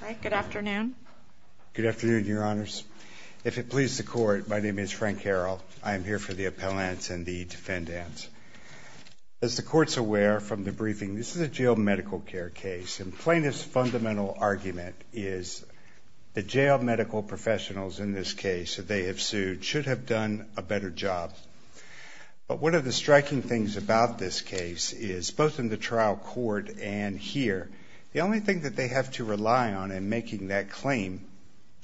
Frank, good afternoon. Good afternoon, Your Honors. If it pleases the Court, my name is Frank Harrell. I am here for the appellants and the defendants. As the Court is aware from the briefing, this is a jail medical care case. Plaintiff's fundamental argument is the jail medical professionals in this case that they have sued should have done a better job. But one of the striking things about this case is both in the trial court and here, the only thing that they have to rely on in making that claim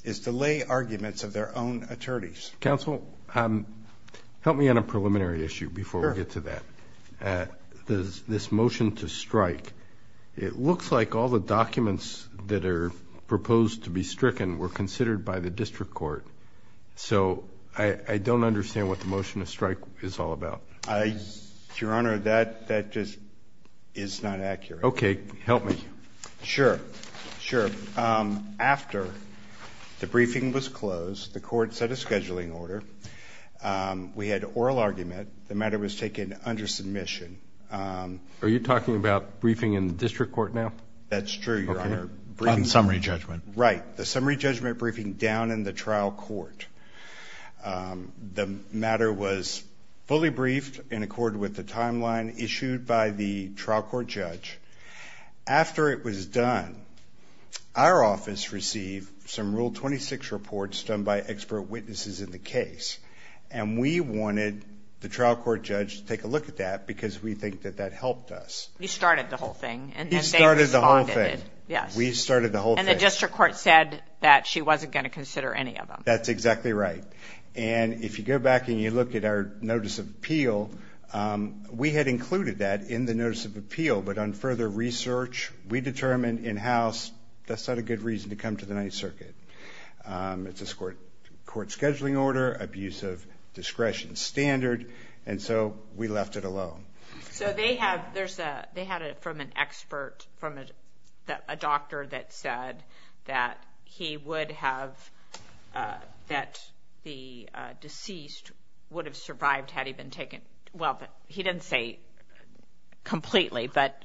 is to lay arguments of their own attorneys. Counsel, help me on a preliminary issue before we get to that. Sure. This motion to strike, it looks like all the documents that are proposed to be stricken were considered by the district court. So I don't understand what the motion to strike is all about. Your Honor, that just is not accurate. Okay. Help me. Sure. After the briefing was closed, the Court set a scheduling order. We had oral argument. The matter was taken under submission. Are you talking about briefing in the district court now? That's true, Your Honor. On summary judgment. Right. The summary judgment briefing down in the trial court. The matter was fully briefed in accord with the timeline issued by the trial court judge. After it was done, our office received some Rule 26 reports done by expert witnesses in the case. And we wanted the trial court judge to take a look at that because we think that that helped us. He started the whole thing. He started the whole thing. We started the whole thing. And the district court said that she wasn't going to consider any of them. That's exactly right. And if you go back and you look at our Notice of Appeal, we had included that in the Notice of Appeal, but on further research we determined in-house that's not a good reason to come to the Ninth Circuit. It's a court scheduling order, abuse of discretion standard, and so we left it alone. So they had it from an expert, from a doctor that said that he would have, that the deceased would have survived had he been taken, well, he didn't say completely, but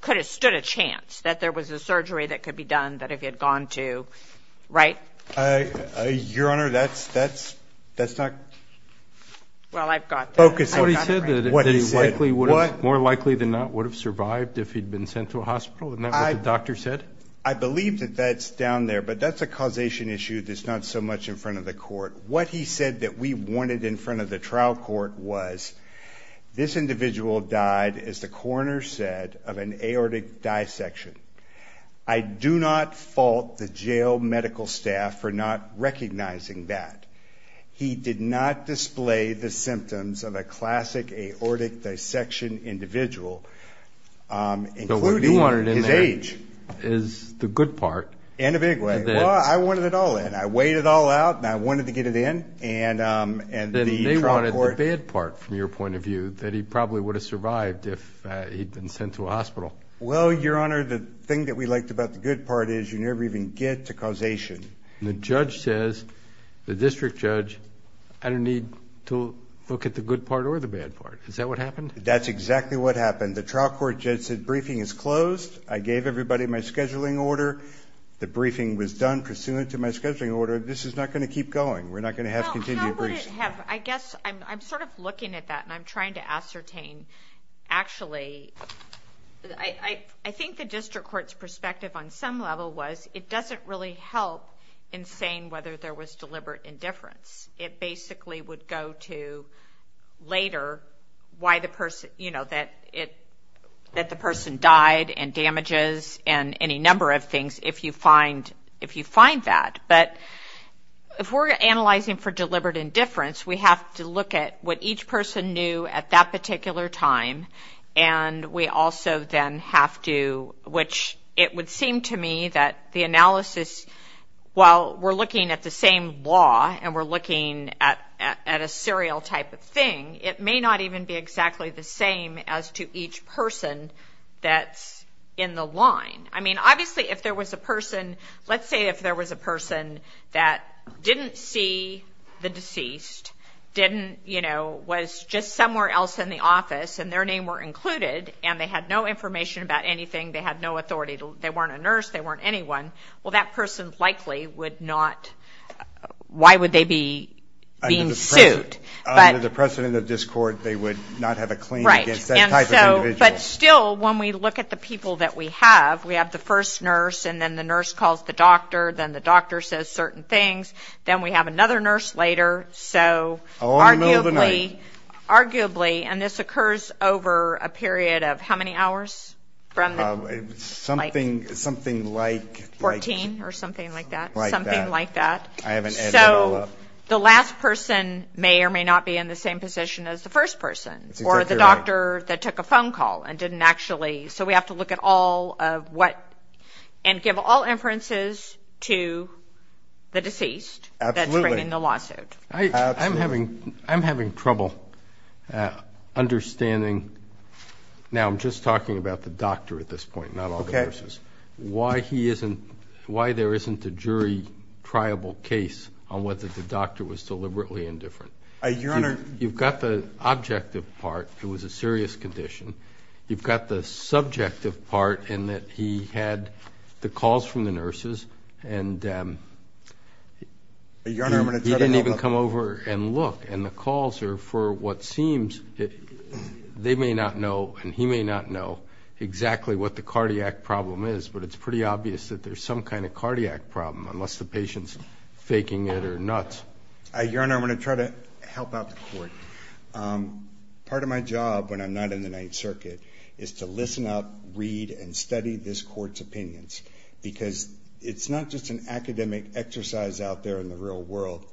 could have stood a chance that there was a surgery that could be done that if he had gone to, right? Your Honor, that's not focused on what he said. What he said. More likely than not he would have survived if he'd been sent to a hospital, isn't that what the doctor said? I believe that that's down there, but that's a causation issue that's not so much in front of the court. What he said that we wanted in front of the trial court was this individual died, as the coroner said, of an aortic dissection. I do not fault the jail medical staff for not recognizing that. He did not display the symptoms of a classic aortic dissection individual, including his age. So what you wanted in there is the good part. In a big way. Well, I wanted it all in. I weighed it all out, and I wanted to get it in. Then they wanted the bad part, from your point of view, that he probably would have survived if he'd been sent to a hospital. Well, Your Honor, the thing that we liked about the good part is you never even get to causation. The judge says, the district judge, I don't need to look at the good part or the bad part. Is that what happened? That's exactly what happened. The trial court judge said, briefing is closed. I gave everybody my scheduling order. The briefing was done pursuant to my scheduling order. This is not going to keep going. We're not going to have continued briefing. I guess I'm sort of looking at that, and I'm trying to ascertain, actually, I think the district court's perspective on some level was, it doesn't really help in saying whether there was deliberate indifference. It basically would go to later that the person died and damages and any number of things, if you find that. If we're analyzing for deliberate indifference, we have to look at what each person knew at that particular time. We also then have to, which it would seem to me that the analysis, while we're looking at the same law and we're looking at a serial type of thing, it may not even be exactly the same as to each person that's in the line. Obviously, if there was a person, let's say if there was a person that didn't see the deceased, was just somewhere else in the office, and their name were included, and they had no information about anything, they had no authority, they weren't a nurse, they weren't anyone, well, that person likely would not, why would they be being sued? Under the precedent of this court, they would not have a claim against that type of individual. But still, when we look at the people that we have, we have the first nurse, and then the nurse calls the doctor, then the doctor says certain things, then we have another nurse later, so arguably, and this occurs over a period of how many hours? Something like 14, or something like that. So, the last person may or may not be in the same position as the first person, or the doctor that took a phone call and didn't actually, so we have to look at all of what, and give all inferences to the deceased that's bringing the lawsuit. I'm having trouble understanding, now I'm just talking about the doctor at this point, not all the nurses, why he isn't, why there isn't a jury triable case on whether the doctor was deliberately indifferent. You've got the objective part, it was a serious condition, you've got the subjective part in that he had the calls from the nurses, and he didn't even come over and look, and the calls are for what seems, they may not know, and he may not know exactly what the cardiac problem is, but it's pretty obvious that there's some kind of cardiac problem, unless the patient's faking it or nuts. Your Honor, I'm going to try to help out the Court. Part of my job, when I'm not in the Ninth Circuit, is to listen up, read, and study this Court's opinions, because it's not just an academic exercise out there in the real world.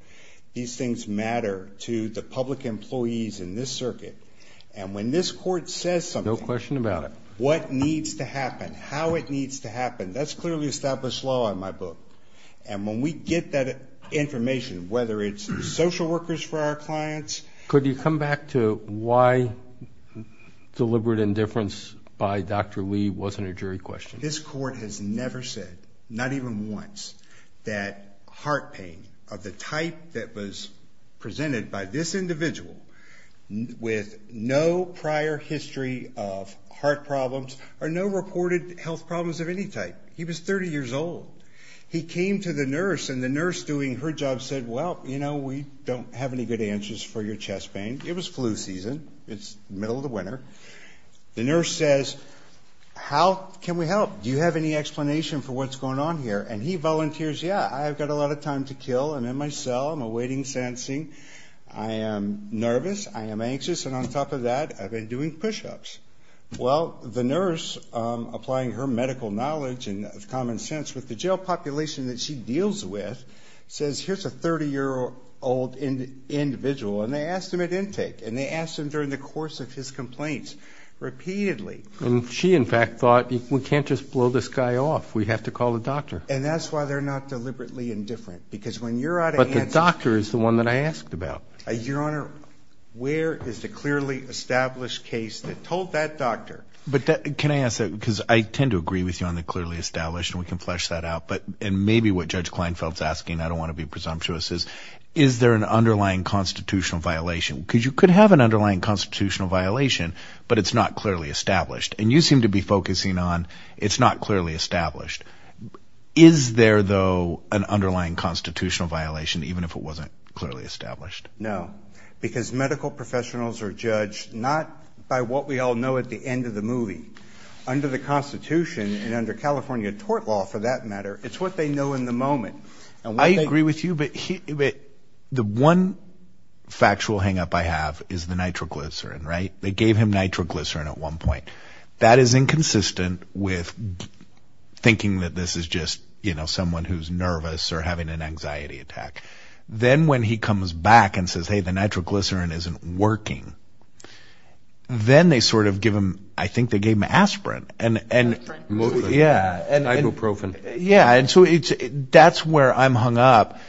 These things matter to the public employees in this circuit, and when this Court says something, what needs to happen, how it needs to happen, that's clearly established law in my book. And when we get that information, whether it's social workers for our clients... Could you come back to why deliberate indifference by Dr. Lee wasn't a jury question? This Court has never said, not even once, that heart pain of the type that was presented by this individual with no prior history of heart problems or no reported health problems of any type. He was 30 years old. He came to the nurse, and the nurse doing her job said, Well, you know, we don't have any good answers for your chest pain. It was flu season. It's the middle of the winter. The nurse says, How can we help? Do you have any explanation for what's going on here? And he volunteers, Yeah, I've got a lot of time to kill. I'm in my cell. I'm awaiting sensing. I am nervous. I am anxious. And on top of that, I've been doing push-ups. Well, the nurse, applying her medical knowledge and common sense with the jail population that she deals with, says, Here's a 30-year-old individual. And they asked him at intake. And they asked him during the course of his complaints repeatedly. And she, in fact, thought, We can't just blow this guy off. We have to call the doctor. And that's why they're not deliberately indifferent. But the doctor is the one that I asked about. Your Honor, where is the clearly established case that told that doctor? But can I ask that? Because I tend to agree with you on the clearly established. And we can flesh that out. And maybe what Judge Kleinfeld's asking, I don't want to be presumptuous, is, Is there an underlying constitutional violation? Because you could have an underlying constitutional violation, but it's not clearly established. And you seem to be focusing on it's not clearly established. Is there, though, an underlying constitutional violation, even if it wasn't clearly established? No. Because medical professionals are judged not by what we all know at the end of the movie. Under the Constitution and under California tort law, for that matter, it's what they know in the moment. I agree with you. But the one factual hang-up I have is the nitroglycerin, right? They gave him nitroglycerin at one point. That is inconsistent with thinking that this is just, you know, someone who's nervous or having an anxiety attack. Then when he comes back and says, hey, the nitroglycerin isn't working, then they sort of give him, I think they gave him aspirin. Ibuprofen. Yeah, and so that's where I'm hung up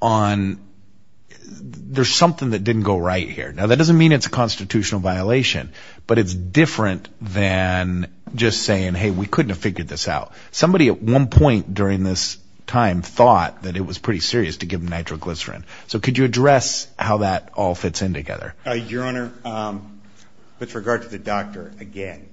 on, there's something that didn't go right here. Now, that doesn't mean it's a constitutional violation, but it's different than just saying, hey, we couldn't have figured this out. Somebody at one point during this time thought that it was pretty serious to give him nitroglycerin. So could you address how that all fits in together? Your Honor, with regard to the doctor, again,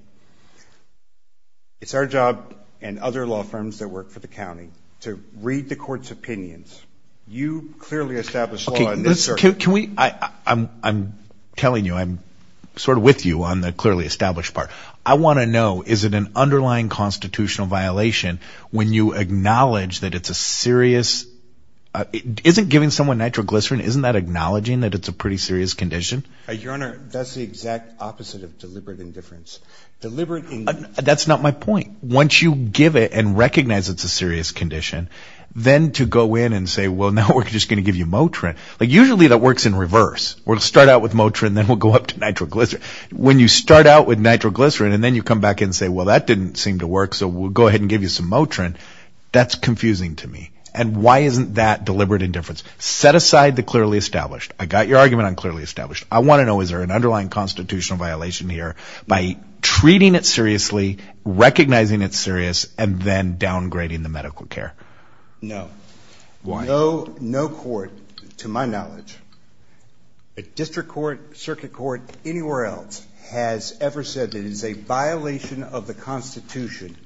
it's our job and other law firms that work for the county to read the court's opinions. You clearly established law in this circuit. I'm telling you, I'm sort of with you on the is it an underlying constitutional violation when you acknowledge that it's a serious, isn't giving someone nitroglycerin, isn't that acknowledging that it's a pretty serious condition? Your Honor, that's the exact opposite of deliberate indifference. That's not my point. Once you give it and recognize it's a serious condition, then to go in and say, well, now we're just going to give you Motrin. Usually that works in reverse. We'll start out with Motrin, then we'll go up to nitroglycerin. When you start out with nitroglycerin and then you come back and say, well, that didn't seem to work, so we'll go ahead and give you some Motrin, that's confusing to me. And why isn't that deliberate indifference? Set aside the clearly established. I got your argument on clearly established. I want to know, is there an underlying constitutional violation here by treating it seriously, recognizing it's serious, and then downgrading the medical care? No. No court, to my knowledge, a district court, circuit court, anywhere else, has ever said that it's a violation of the Constitution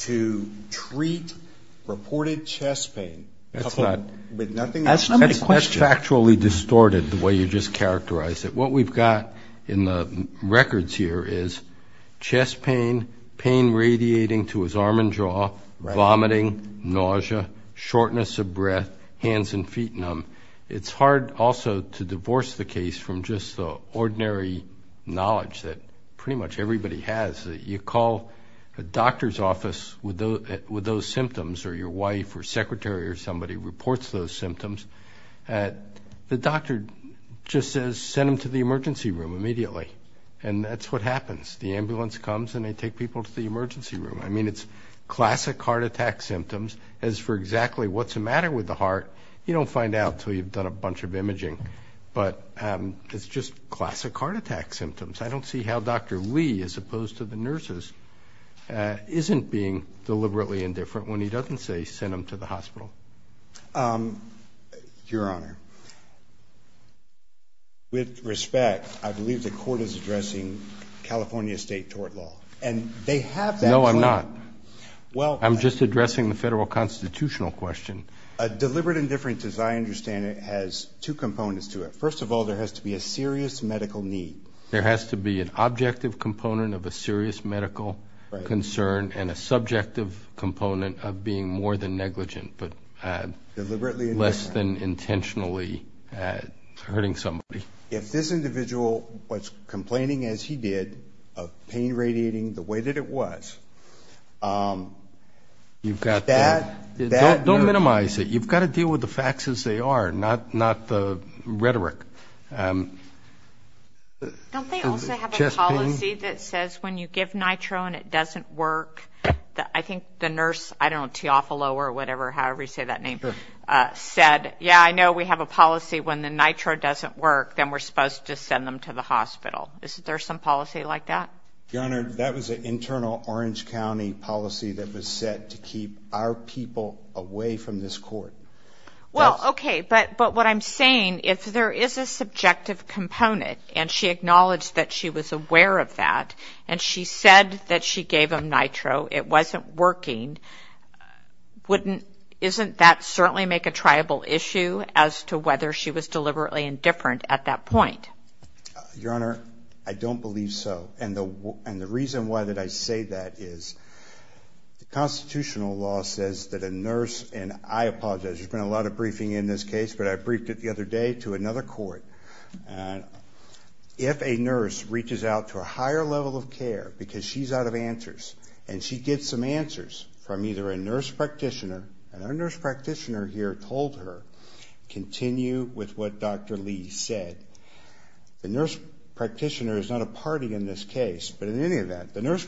to treat reported chest pain with nothing else. That's not my question. That's factually distorted the way you just characterized it. What we've got in the records here is chest pain, pain radiating to his arm and jaw, vomiting, nausea, shortness of breath, hands and feet numb. It's hard also to have ordinary knowledge that pretty much everybody has. You call a doctor's office with those symptoms or your wife or secretary or somebody reports those symptoms. The doctor just says, send them to the emergency room immediately. And that's what happens. The ambulance comes and they take people to the emergency room. I mean, it's classic heart attack symptoms. As for exactly what's the matter with the heart, you don't find out until you've done a bunch of imaging. But it's just classic heart attack symptoms. I don't see how Dr. Lee, as opposed to the nurses, isn't being deliberately indifferent when he doesn't say, send them to the hospital. Your Honor, with respect, I believe the court is addressing California state tort law. And they have that claim. No, I'm not. I'm just addressing the federal constitutional question. Deliberate indifference, as I said, has two components to it. First of all, there has to be a serious medical need. There has to be an objective component of a serious medical concern and a subjective component of being more than negligent but less than intentionally hurting somebody. If this individual was complaining as he did of pain radiating the way that it was, that... Don't minimize it. You've got to deal with the facts as they are, not the rhetoric. Don't they also have a policy that says when you give nitro and it doesn't work? I think the nurse, I don't know, Teofilo or whatever, however you say that name, said yeah, I know we have a policy when the nitro doesn't work, then we're supposed to send them to the hospital. Is there some policy like that? Your Honor, that was an internal Orange County policy that was set to keep our people away from this court. Well, okay, but what I'm saying, if there is a subjective component and she acknowledged that she was aware of that and she said that she gave them nitro, it wasn't working, wouldn't... Isn't that certainly make a triable issue as to whether she was deliberately indifferent at that point? Your Honor, I don't believe so and the reason why that I say that is the constitutional law says that a nurse, and I apologize, there's been a lot of briefing in this case, but I briefed it the other day to another court, if a nurse reaches out to a higher level of care because she's out of answers and she gets some answers from either a nurse practitioner, and our nurse practitioner here told her continue with what Dr. Lee said. The nurse practitioner is not a party in this case, but in any event, the nurse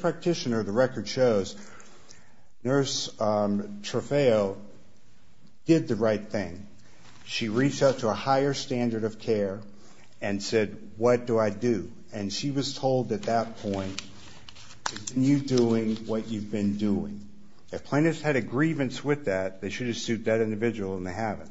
did the right thing. She reached out to a higher standard of care and said, what do I do? And she was told at that point, continue doing what you've been doing. If plaintiffs had a grievance with that, they should have sued that individual and they haven't.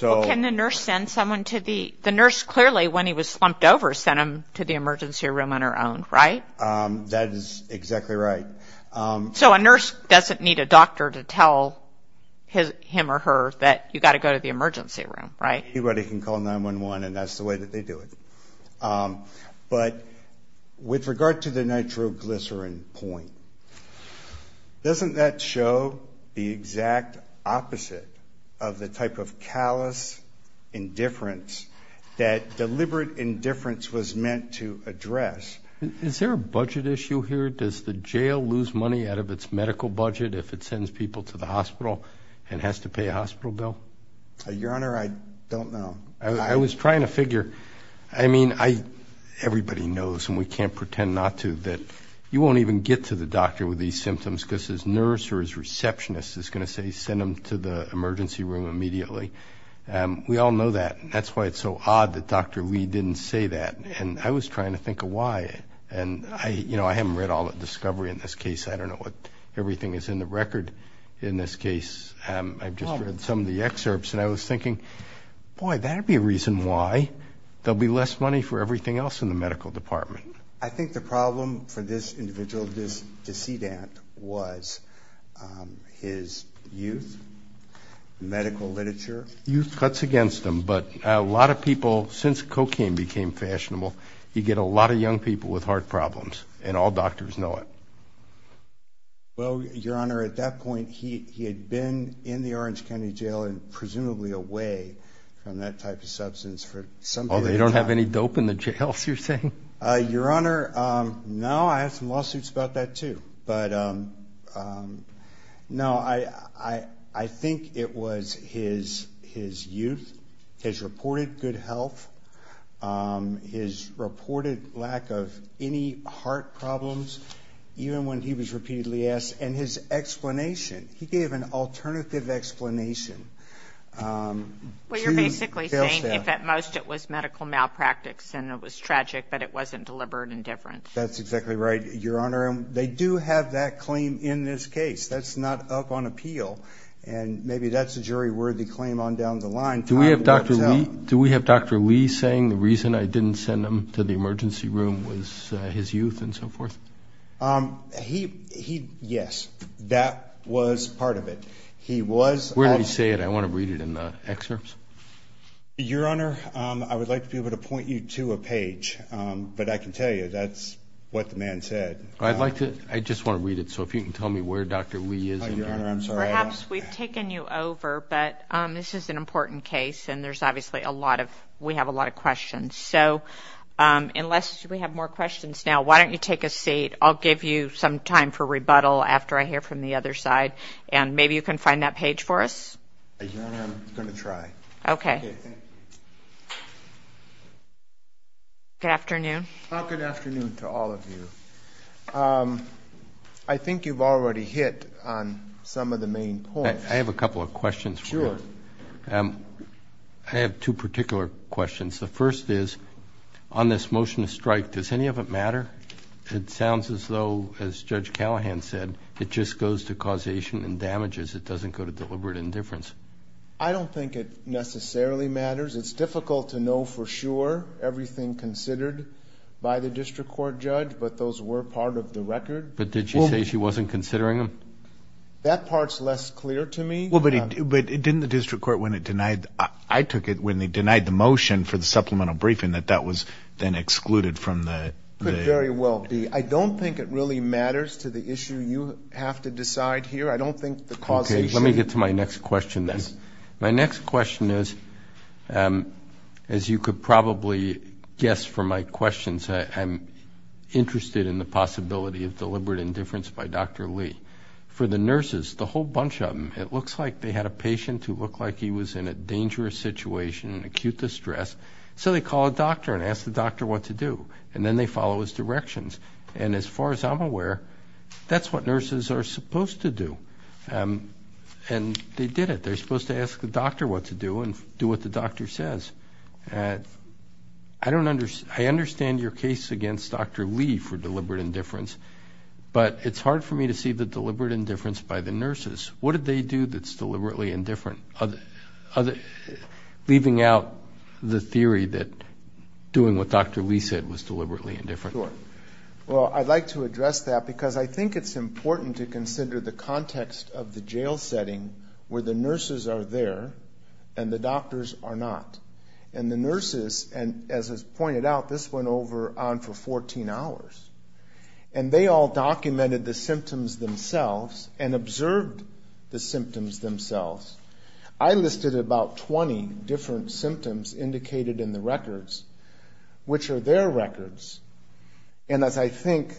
Well, can the nurse send someone to the... The nurse clearly, when he was slumped over, sent him to the emergency room on her own, right? That is exactly right. So a nurse doesn't need a doctor to tell him or her that you've got to go to the emergency room, right? Anybody can call 911 and that's the way that they do it. But with regard to the nitroglycerin point, doesn't that show the exact opposite of the type of callous indifference that deliberate indifference was meant to address? Is there a budget issue here? Does the jail lose money out of its medical budget if it sends people to the hospital and has to pay a hospital bill? Your Honor, I don't know. I was trying to figure... I mean, everybody knows and we can't pretend not to that you won't even get to the doctor with these symptoms because his nurse or his receptionist is going to say send him to the emergency room immediately. We all know that. That's why it's so odd that Dr. Lee didn't say that. I was trying to think of why. I haven't read all the discovery in this case. I don't know what everything is in the record in this case. I've just read some of the excerpts and I was thinking, boy, that would be a reason why there will be less money for everything else in the medical department. I think the problem for this individual, this decedent, was his youth, medical literature. Youth cuts against him, but a lot of people since cocaine became fashionable, you get a lot of young people with heart problems and all doctors know it. Well, Your Honor, at that point he had been in the Orange County Jail and presumably away from that type of substance for some period of time. Oh, they don't have any dope in the jails, you're saying? No, I have some lawsuits about that, too. No, I think it was his youth, his reported good health, his reported lack of any heart problems, even when he was repeatedly asked, and his explanation. He gave an alternative explanation. Well, you're basically saying if at most it was medical malpractice and it was tragic, but it wasn't deliberate and different. That's exactly right, Your Honor. They do have that claim in this case. That's not up on appeal and maybe that's a jury worthy claim on down the line. Do we have Dr. Lee saying the reason I didn't send him to the emergency room was his youth and so forth? Yes, that was part of it. Where did he say it? I want to read it in the excerpts. Your Honor, I would like to be able to point you to a page, but I can tell you that's what the man said. I just want to read it, so if you can tell me where Dr. Lee is. Perhaps we've taken you over, but this is an important case and we have a lot of questions. Unless we have more questions now, why don't you take a seat. I'll give you some time for rebuttal after I hear from the other side. Maybe you can find that page for us? Your Honor, I'm going to try. Good afternoon. Good afternoon to all of you. I think you've already hit on some of the main points. I have a couple of questions for you. I have two particular questions. The first is on this motion to strike, does any of it matter? It sounds as though as Judge Callahan said, it just goes to causation and damages. It doesn't go to deliberate indifference. I don't think it necessarily matters. It's difficult to know for sure everything considered by the district court judge, but those were part of the record. But did she say she wasn't considering them? That part's less clear to me. But didn't the district court, when it denied, I took it, when they denied the motion for the supplemental briefing that that was then excluded from the Could very well be. I don't think it really matters to the issue you have to decide here. I don't think the causation. Okay, let me get to my next question then. My next question is, as you could probably guess from my questions, I'm interested in the possibility of deliberate indifference by Dr. Lee. For the nurses, the whole bunch of them, it looks like they had a patient who looked like he was in a dangerous situation, acute distress, so they call a doctor and ask the doctor what to do, and then they follow his directions. And as far as I'm aware, that's what nurses are supposed to do. And they did it. They're supposed to ask the doctor what to do and do what the doctor says. I understand your case against Dr. Lee for deliberate indifference, but it's hard for me to see the deliberate indifference by the nurses. What did they do that's deliberately indifferent, leaving out the theory that doing what Dr. Lee said was deliberately indifferent? Sure. Well, I'd like to address that because I think it's important to consider the context of the jail setting where the nurses are there and the doctors are not. And the nurses, as is pointed out, this went on for 14 hours. And they all documented the symptoms themselves and observed the symptoms themselves. I listed about 20 different symptoms indicated in the records, which are their records. And as I think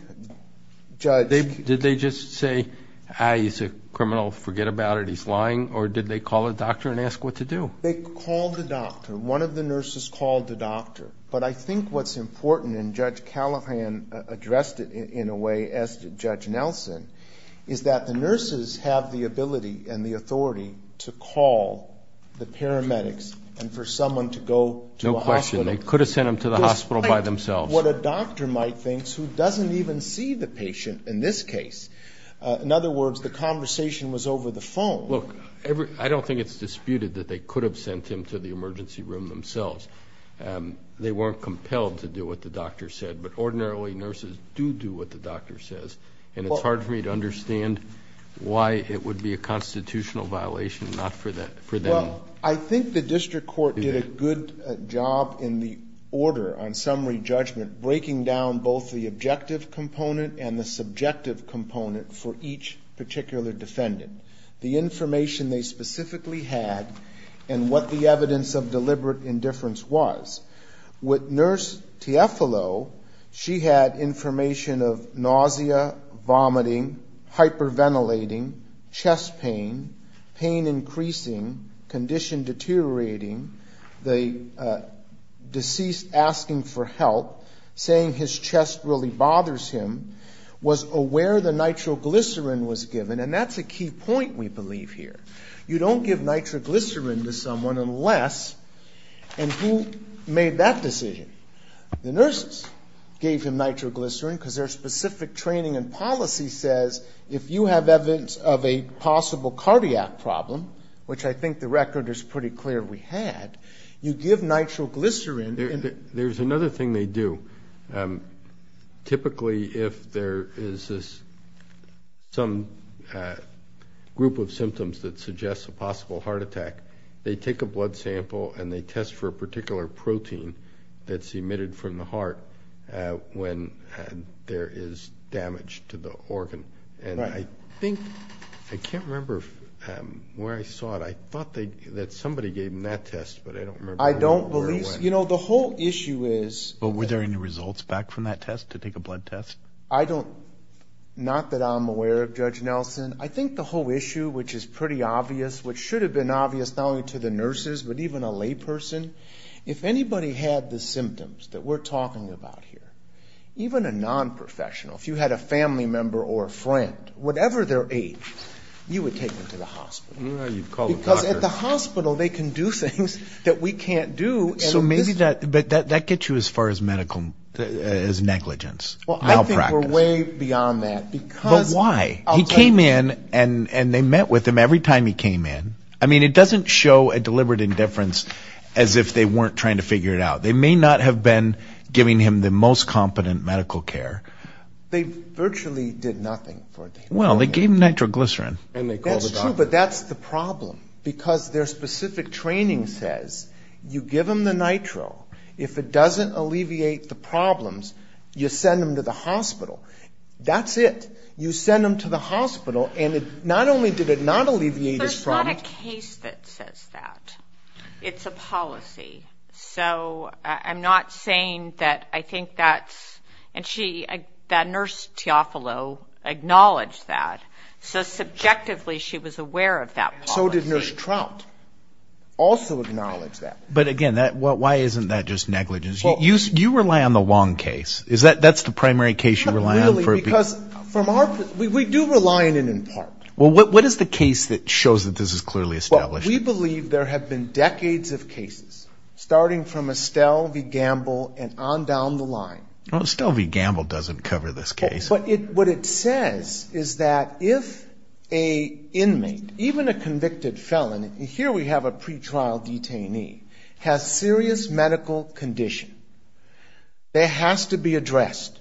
Judge... Did they just say, ah, he's a criminal, forget about it, he's lying, or did they call a doctor and ask what to do? They called the doctor. One of the nurses called the doctor. But I think what's important, and Judge Callahan addressed it in a way, as did Judge Nelson, is that the nurses have the ability and the authority to call the paramedics and for someone to go to a hospital. No question. They could have sent them to the hospital by themselves. What a doctor might think, who doesn't even see the patient in this case. In other words, the conversation was over the phone. Look, I don't think it's disputed that they could have sent him to the emergency room themselves. They weren't compelled to do what the doctor said. But ordinarily nurses do do what the doctor says. And it's hard for me to understand why it would be a constitutional violation not for them. Well, I think the district court did a good job in the order on summary judgment, breaking down both the objective component and the subjective component for each particular defendant. The information they specifically had and what the evidence of deliberate indifference was. With Nurse Tieffolo, she had information of nausea, vomiting, hyperventilating, chest pain, pain increasing, condition deteriorating, the deceased asking for help, saying his was aware the nitroglycerin was given. And that's a key point we believe here. You don't give nitroglycerin to someone unless and who made that decision? The nurses gave him nitroglycerin because their specific training and policy says if you have evidence of a possible cardiac problem, which I think the record is pretty clear we had, you give nitroglycerin. There's another thing they do. Typically, if there is some group of symptoms that suggests a possible heart attack, they take a blood sample and they test for a particular protein that's emitted from the heart when there is damage to the organ. I can't remember where I saw it. I thought that somebody gave him that test, but I don't remember. Were there any results back from that test to take a blood test? Not that I'm aware of, Judge Nelson. I think the whole issue, which is pretty obvious, which should have been obvious not only to the nurses, but even a lay person, if anybody had the symptoms that we're talking about here, even a nonprofessional, if you had a family member or a friend, whatever their age, you would take them to the hospital. Because at the hospital they can do things that we can't do. So maybe that gets you as far as medical negligence. Well, I think we're way beyond that. But why? He came in and they met with him every time he came in. I mean, it doesn't show a deliberate indifference as if they weren't trying to figure it out. They may not have been giving him the most competent medical care. They virtually did nothing for him. Well, they gave him nitroglycerin. That's true, but that's the problem, because their specific training says you give him the nitro. If it doesn't alleviate the problems, you send him to the hospital. That's it. You send him to the hospital, and not only did it not alleviate his problems... There's not a case that says that. It's a policy. So I'm not saying that I think that's... And that nurse Teofilo acknowledged that. So subjectively she was aware of that policy. So did Nurse Trout also acknowledge that. But again, why isn't that just negligence? You rely on the Wong case. That's the primary case you rely on? Not really, because we do rely on it in part. Well, what is the case that shows that this is clearly established? We believe there have been decades of cases, starting from Estelle v. Gamble and on down the line. Estelle v. Gamble doesn't cover this case. But what it says is that if an inmate, even a convicted felon, and here we have a pretrial detainee, has serious medical condition, that has to be addressed.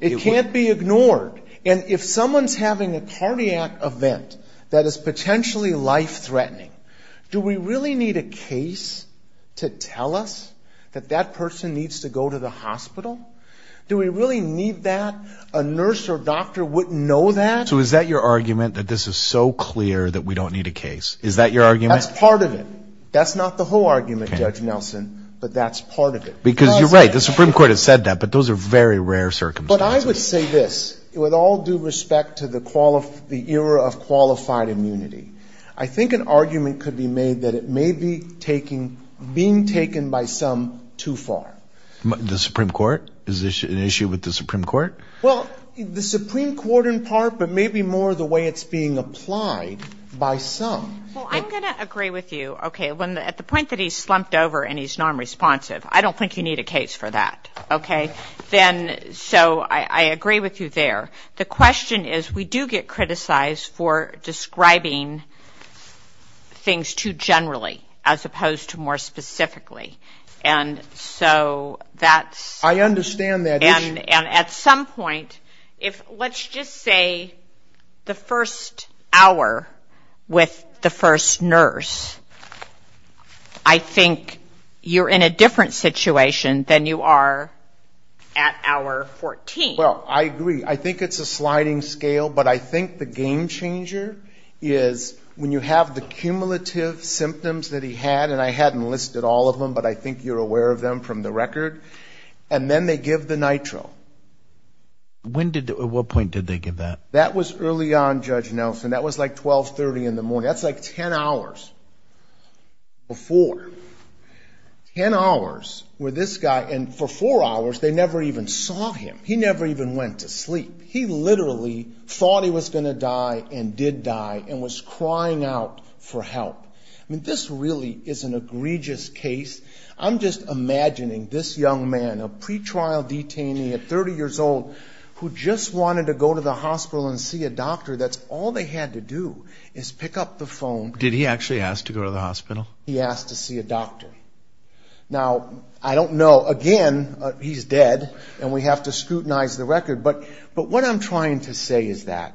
It can't be ignored. And if someone's having a cardiac event that is potentially life-threatening, do we really need a case to tell us that that person needs to go to the hospital? Do we really need that? A nurse or doctor wouldn't know that? So is that your argument, that this is so clear that we don't need a case? Is that your argument? That's part of it. That's not the whole argument, Judge Nelson, but that's part of it. Because you're right, the Supreme Court has said that, but those are very rare circumstances. But I would say this, with all due respect to the era of qualified immunity, I think an argument could be made that it may be taking, being taken by some too far. The Supreme Court? Is this an issue with the Supreme Court? Well, the Supreme Court in part, but maybe more the way it's being applied by some. Well, I'm going to agree with you. At the point that he's slumped over and he's nonresponsive, I don't think you need a case for that. Okay. So I agree with you there. The question is, we do get criticized for describing things too generally, as opposed to more specifically. And so that's... I understand that. And at some point, let's just say the first hour with the first nurse, I think you're in a different situation than you are at hour 14. Well, I agree. I think it's a sliding scale, but I think the game changer is when you have the cumulative symptoms that he had, and I hadn't listed all of them, but I think you're aware of them from the record. And then they give the nitro. At what point did they give that? That was early on, Judge Nelson. That was like 1230 in the morning. That's like ten hours before. Ten hours where this guy, and for four hours they never even saw him. He never even went to sleep. He literally thought he was going to die and did die and was crying out for help. I mean, this really is an egregious case. I'm just imagining this young man, a pretrial detainee at 30 years old, who just wanted to go to the hospital and see a doctor. That's all they had to do is pick up the phone. Did he actually ask to go to the hospital? He asked to see a doctor. Now, I don't know. Again, he's dead, and we have to scrutinize the record. But what I'm trying to say is that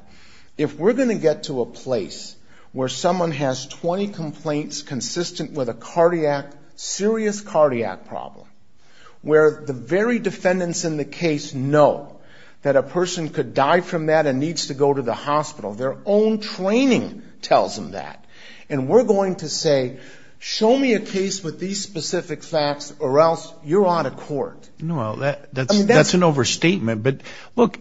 if we're going to get to a place where someone has 20 complaints consistent with a serious cardiac problem, where the very defendants in the case know that a person could die from that and needs to go to the hospital, their own training tells them that, and we're going to say, show me a case with these specific facts or else you're out of court. That's an overstatement, but look,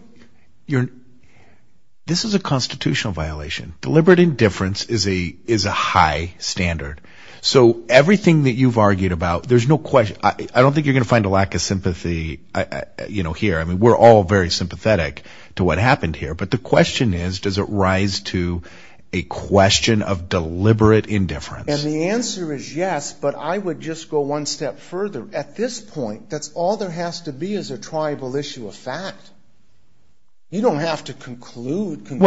this is a constitutional violation. Deliberate indifference is a high standard. So everything that you've argued about, there's no question. I don't think you're going to find a lack of sympathy here. I mean, we're all very sympathetic to what happened here. But the question is, does it rise to a question of deliberate indifference? And the answer is yes, but I would just go one step further. At this point, that's all there has to be is a triable issue of fact. You don't have to conclude conclusively.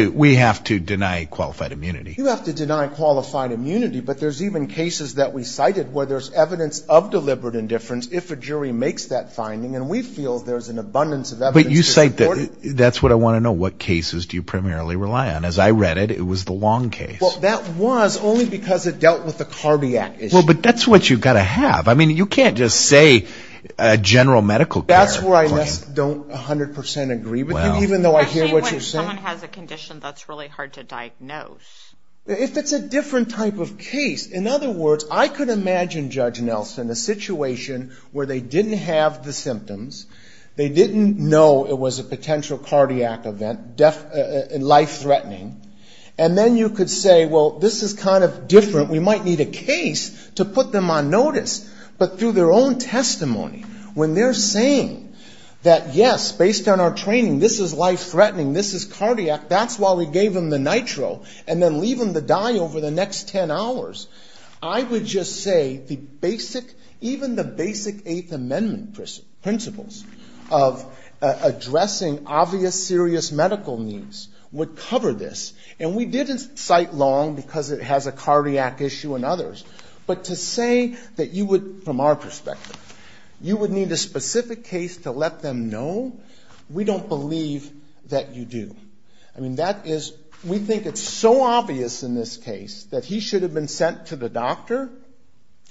Well, we have to deny qualified immunity. You have to deny qualified immunity, but there's even cases that we cited where there's evidence of deliberate indifference if a jury makes that finding, and we feel there's an abundance of evidence to support it. But you cite, that's what I want to know, what cases do you primarily rely on? As I read it, it was the Long case. Well, that was only because it dealt with the cardiac issue. Well, but that's what you've got to have. I mean, you can't just say general medical care. Well, that's where I don't 100 percent agree with you, even though I hear what you're saying. Well, especially when someone has a condition that's really hard to diagnose. If it's a different type of case. In other words, I could imagine, Judge Nelson, a situation where they didn't have the symptoms, they didn't know it was a potential cardiac event, life-threatening, and then you could say, well, this is kind of different. We might need a case to put them on notice. But through their own testimony, when they're saying that, yes, based on our training, this is life-threatening, this is cardiac, that's why we gave them the nitro, and then leave them to die over the next 10 hours. I would just say the basic, even the basic Eighth Amendment principles of addressing obvious serious medical needs would cover this. And we didn't cite Long because it has a cardiac issue and others. But to say that you would, from our perspective, you would need a specific case to let them know, we don't believe that you do. I mean, that is, we think it's so obvious in this case that he should have been sent to the doctor,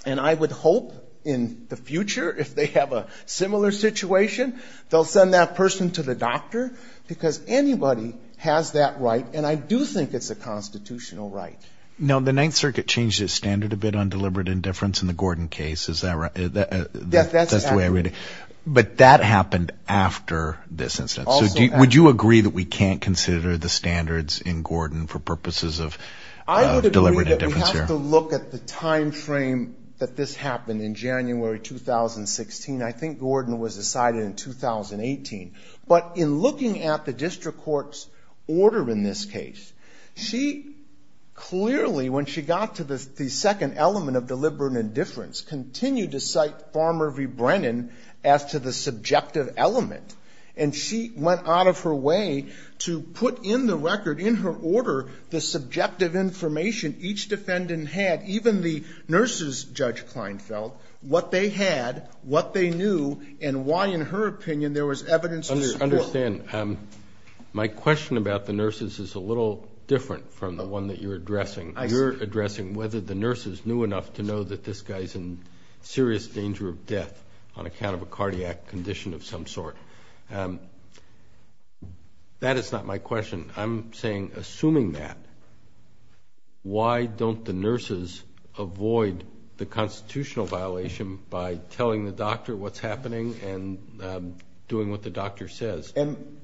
and I would hope in the future, if they have a similar situation, they'll send that person to the doctor, because anybody has that right, and I do think it's a constitutional right. Now, the Ninth Circuit changed its standard a bit on deliberate indifference in the Gordon case, is that right? That's the way I read it. But that happened after this incident. So would you agree that we can't consider the standards in Gordon for purposes of deliberate indifference here? I would agree that we have to look at the time frame that this happened, in January 2016. I think Gordon was decided in 2018. But in looking at the district court's order in this case, she clearly, when she got to the second element of deliberate indifference, continued to cite Farmer v. Brennan as to the subjective element, and she went out of her way to put in the record, in her order, the subjective information each defendant had, even the nurse's, Judge Kleinfeld, what they had, what they knew, and why, in her opinion, there was evidence of squabble. I understand. My question about the nurses is a little different. You're addressing whether the nurses knew enough to know that this guy's in serious danger of death, on account of a cardiac condition of some sort. That is not my question. I'm saying, assuming that, why don't the nurses avoid the constitutional violation by telling the doctor what's happening, and doing what the doctor says?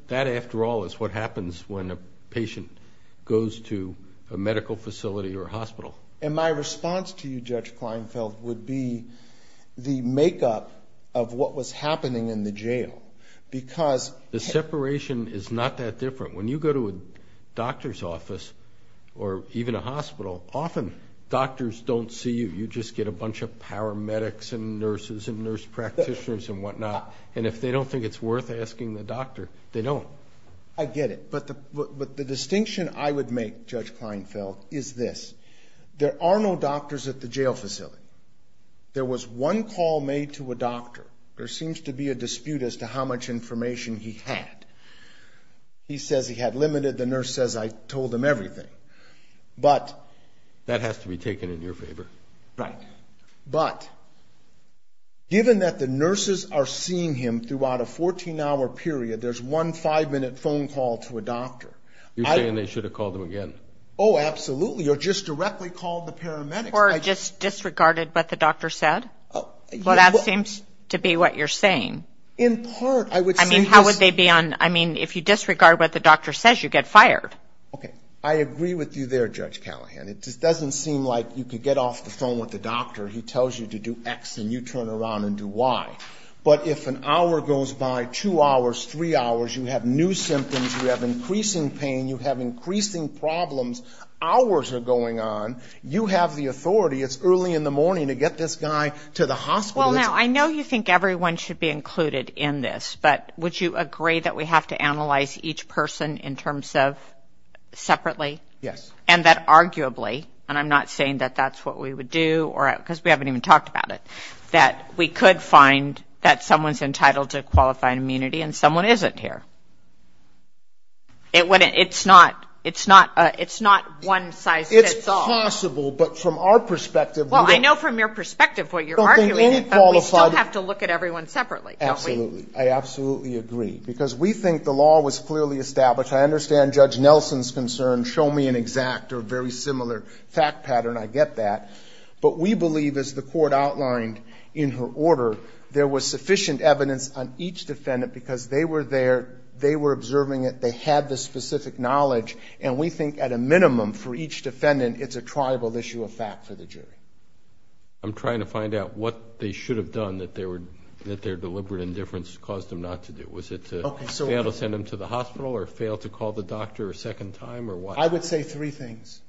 That, after all, is what happens when a patient is in a hospital, goes to a medical facility or hospital. And my response to you, Judge Kleinfeld, would be the makeup of what was happening in the jail, because... The separation is not that different. When you go to a doctor's office, or even a hospital, often doctors don't see you. You just get a bunch of paramedics and nurses and nurse practitioners and whatnot, and if they don't think it's worth asking the doctor, they don't. The point I would make, Judge Kleinfeld, is this. There are no doctors at the jail facility. There was one call made to a doctor. There seems to be a dispute as to how much information he had. He says he had limited. The nurse says I told him everything. But... That has to be taken in your favor. Right. But, given that the nurses are seeing him throughout a 14-hour period, they're not going to ask you again. Oh, absolutely. Or just directly call the paramedics. Or just disregarded what the doctor said? Well, that seems to be what you're saying. In part, I would say... I mean, how would they be on... I mean, if you disregard what the doctor says, you get fired. Okay. I agree with you there, Judge Callahan. It just doesn't seem like you could get off the phone with the doctor. He tells you to do X and you turn around and do Y. But if an hour goes by, two hours, three hours, you have new symptoms, you have increasing pain, you have problems. Hours are going on. You have the authority. It's early in the morning to get this guy to the hospital. Well, now, I know you think everyone should be included in this. But would you agree that we have to analyze each person in terms of separately? Yes. And that arguably, and I'm not saying that that's what we would do, because we haven't even talked about it, that we could find that someone's entitled to qualified immunity and someone isn't here. It's not one size fits all. It's possible, but from our perspective... Well, I know from your perspective what you're arguing, but we still have to look at everyone separately, don't we? Absolutely. I absolutely agree, because we think the law was clearly established. I understand Judge Nelson's concern. Show me an exact or very similar fact pattern. I get that. But we believe, as the Court outlined in her order, there was sufficient evidence on each defendant because they were there, they were observing it, they had the specific knowledge, but at a minimum for each defendant, it's a triable issue of fact for the jury. I'm trying to find out what they should have done that their deliberate indifference caused them not to do. Was it to fail to send them to the hospital or fail to call the doctor a second time or what? I would say three things.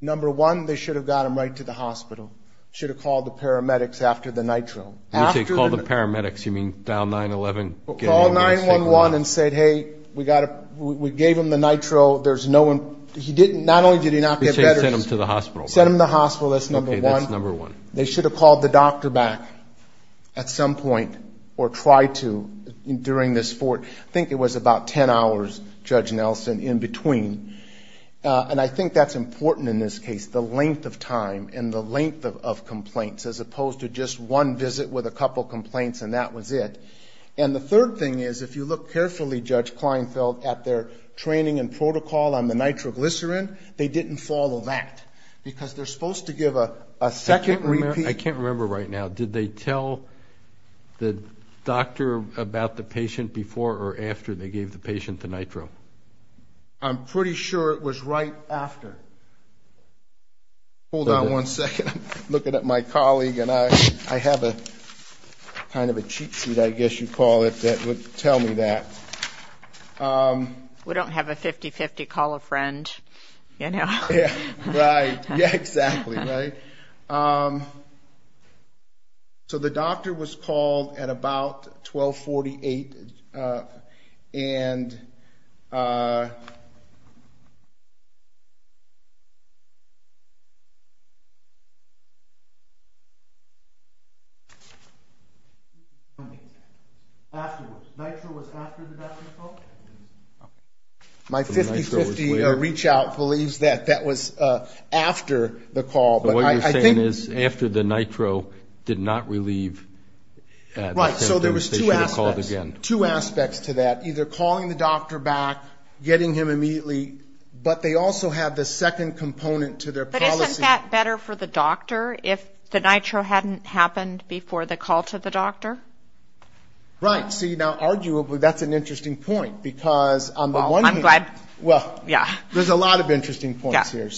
Number one, they should have got them right to the hospital. Should have called the paramedics after the nitro. When you say called the paramedics, you mean dial 911? Call 911 and say, hey, we gave him the nitro, there's no one, he didn't, not only did he not get better. He said send him to the hospital. Send him to the hospital, that's number one. Okay, that's number one. They should have called the doctor back at some point or tried to during this court. I think it was about ten hours, Judge Nelson, in between. And I think that's important in this case, the length of time and the length of complaints as opposed to just one visit with a couple complaints and that was it. And the third thing is if you look carefully, Judge Kleinfeld, at their training and protocol on the nitroglycerin, they didn't follow that because they're supposed to give a second repeat. I can't remember right now. Did they tell the doctor about the patient before or after they gave the patient the nitro? I'm pretty sure it was right after. Hold on one second. I'm looking at my colleague and I have a kind of a cheat sheet, I guess you'd call it, that would tell me that. We don't have a 50-50 call a friend, you know. Yeah, right. Yeah, exactly, right. So the doctor was called at about 1248 and afterwards, nitro was after the doctor's call? My 50-50 reach out believes that that was after the call. What you're saying is after the nitro did not relieve the patient, they should have called again. Right, so there was two aspects to that, either calling the doctor back, getting him immediately, but they also had the second component to their policy. But isn't that better for the doctor? If the nitro hadn't happened before the call to the doctor? Right. See, now, arguably, that's an interesting point because on the one hand, well, there's a lot of interesting points here.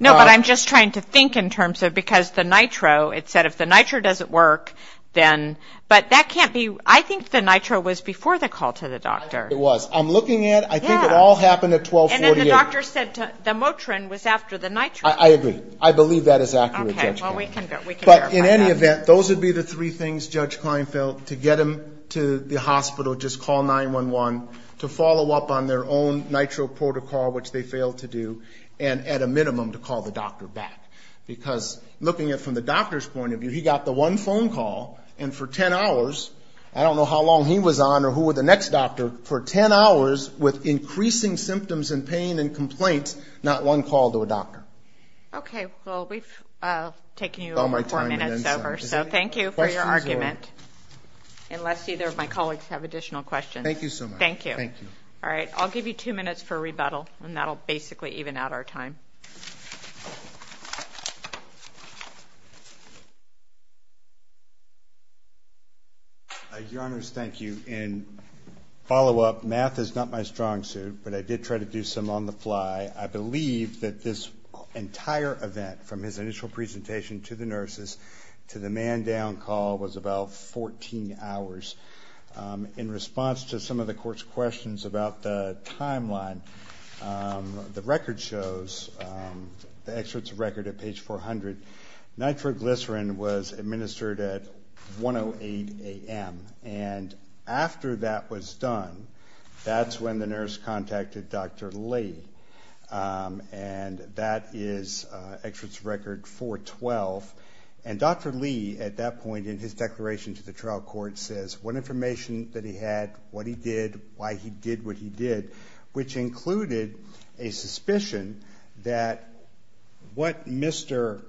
No, but I'm just trying to think in terms of because the nitro, it said if the nitro doesn't work, then, but that can't be, I think the nitro was before the call to the doctor. It was. I'm looking at, I think it all happened at 1248. And then the doctor said the Motrin was after the nitro. I agree. I believe that is accurate, Judge Klinefeld. Okay, well, we can verify that. But in any event, those would be the three things, Judge Klinefeld, to get him to the hospital, just call 911, to follow up on their own nitro protocol, which they failed to do, and at a minimum, to call the doctor back. Because looking at it from the doctor's point of view, he got the one phone call, and for 10 hours, I don't know how long he was on or who were the next doctor, for 10 hours with increasing symptoms and pain and complaints, not one call to a doctor. Okay. Well, we've taken you over four minutes over, so thank you for your argument, unless either of my colleagues have additional questions. Thank you so much. Thank you. Thank you. All right, I'll give you two minutes for rebuttal, and that will basically even out our time. Your Honors, thank you. In follow-up, math is not my strong suit, but I did try to do some on the fly. I believe that this entire event, from his initial presentation to the nurses, to the man-down call, was about 14 hours. In response to some of the Court's questions about the timeline, the record shows, the excerpt's record at page 400, nitroglycerin was administered at 1.08 a.m., and after that was done, that's when the nurse contacted Dr. Laid. And that is excerpt's record 412. And Dr. Laid, at that point, in his declaration to the trial court, says what information that he had, what he did, why he did what he did, which included a suspicion that what Mr.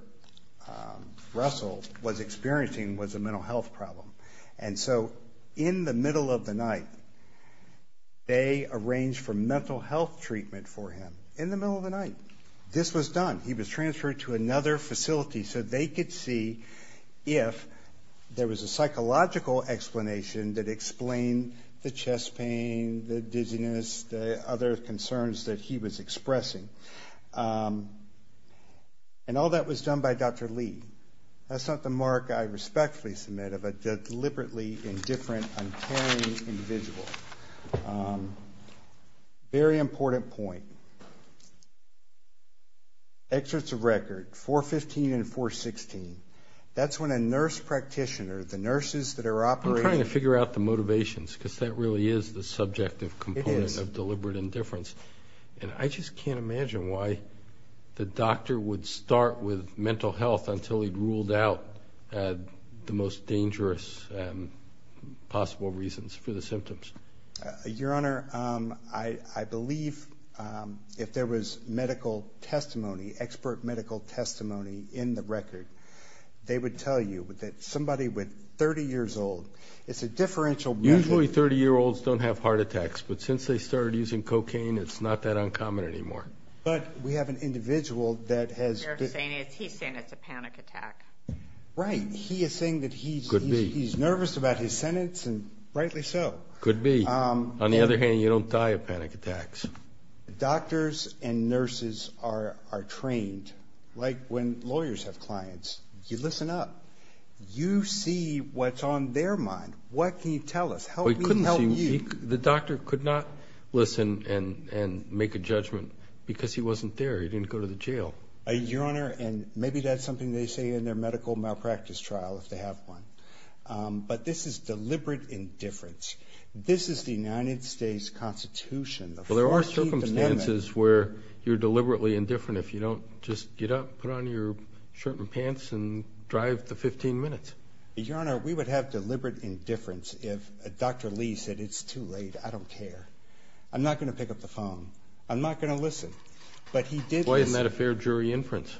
Russell was experiencing was a mental health problem. And so, in the middle of the night, they arranged for mental health treatment for him. In the middle of the night, this was done. He was transferred to another facility so they could see if there was a psychological explanation that explained the chest pain, the dizziness, the other concerns that he was expressing. And all that was done by Dr. Laid. That's not the mark I respectfully submit of a deliberately indifferent, uncaring individual. Very important point. Excerpts of record 415 and 416. That's when a nurse practitioner, the nurses that are operating... I'm trying to figure out the motivations because that really is the subjective component of deliberate indifference. And I just can't imagine why the doctor would start with mental health until he ruled out the most dangerous possible reasons for the symptoms. Your Honor, I believe if there was medical testimony, expert medical testimony in the record, they would tell you that somebody with 30 years old... Usually 30-year-olds don't have heart attacks, but since they started using cocaine, it's not that uncommon anymore. But we have an individual that has... He's saying it's a panic attack. Right. He is saying that he's... Could be. He's nervous about his sentence and rightly so. Could be. On the other hand, you don't die of panic attacks. Doctors and nurses are trained. Like when lawyers have clients, you listen up. You see what's on their mind. What can you tell us? The doctor could not listen and make a judgment because he wasn't there. He didn't go to the jail. Your Honor, and maybe that's something they say in their medical malpractice trial if they have one. But this is deliberate indifference. This is the United States Constitution. Well, there are circumstances where you're deliberately indifferent if you don't just get up, put on your shirt and pants and drive the 15 minutes. Your Honor, we would have deliberate indifference if Dr. Lee said, it's too late, I don't care. I'm not going to pick up the phone. I'm not going to listen. Why isn't that a fair jury inference?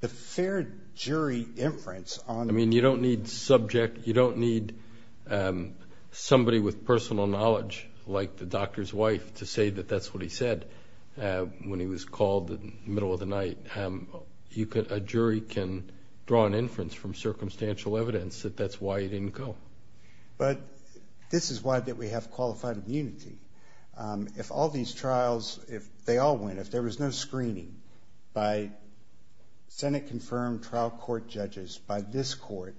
The fair jury inference on... I mean, you don't need subject, you don't need somebody with personal knowledge like the doctor's wife to say that that's what he said when he was called in the middle of the night. A jury can draw an inference from circumstantial evidence that that's why he didn't go. But this is why we have qualified immunity. If all these trials, if they all went, if there was no screening, by Senate-confirmed trial court judges, by this court,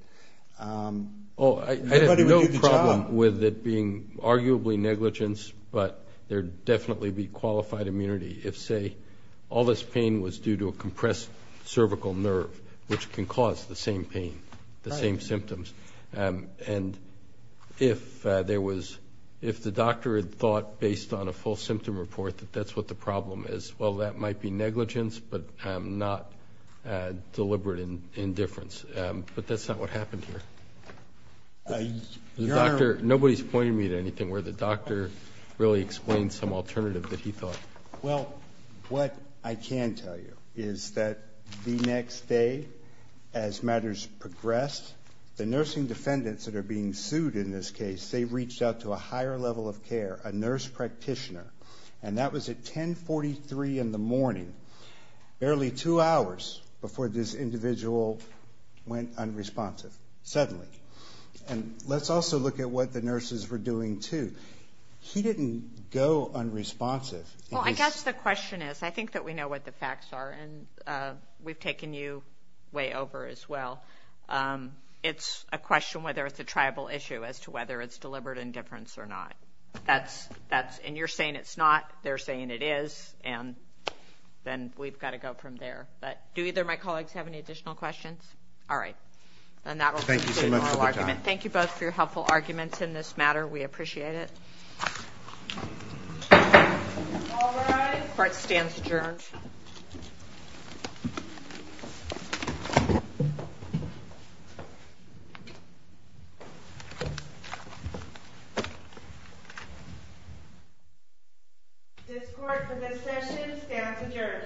everybody would do the job. I have no problem with it being arguably negligence, but there'd definitely be qualified immunity if, say, all this pain was due to a compressed cervical nerve, which can cause the same pain, the same symptoms. And if there was, if the doctor had thought, based on a full symptom report, that that's what the problem is, but not deliberate indifference. But that's not what happened here. Nobody's pointing me to anything where the doctor really explained some alternative that he thought. Well, what I can tell you is that the next day, as matters progressed, the nursing defendants that are being sued in this case, they reached out to a higher level of care, a nurse practitioner, and that was at 10.43 in the morning. Barely two hours before this individual went unresponsive. Suddenly. And let's also look at what the nurses were doing, too. He didn't go unresponsive. Well, I guess the question is, I think that we know what the facts are, and we've taken you way over as well. It's a question whether it's a tribal issue as to whether it's deliberate indifference or not. And you're saying it's not, they're saying it is, and then we've got to go from there. But do either of my colleagues have any additional questions? All right. And that will conclude my argument. Thank you both for your helpful arguments in this matter. We appreciate it. All rise. Court stands adjourned. This court for this session stands adjourned.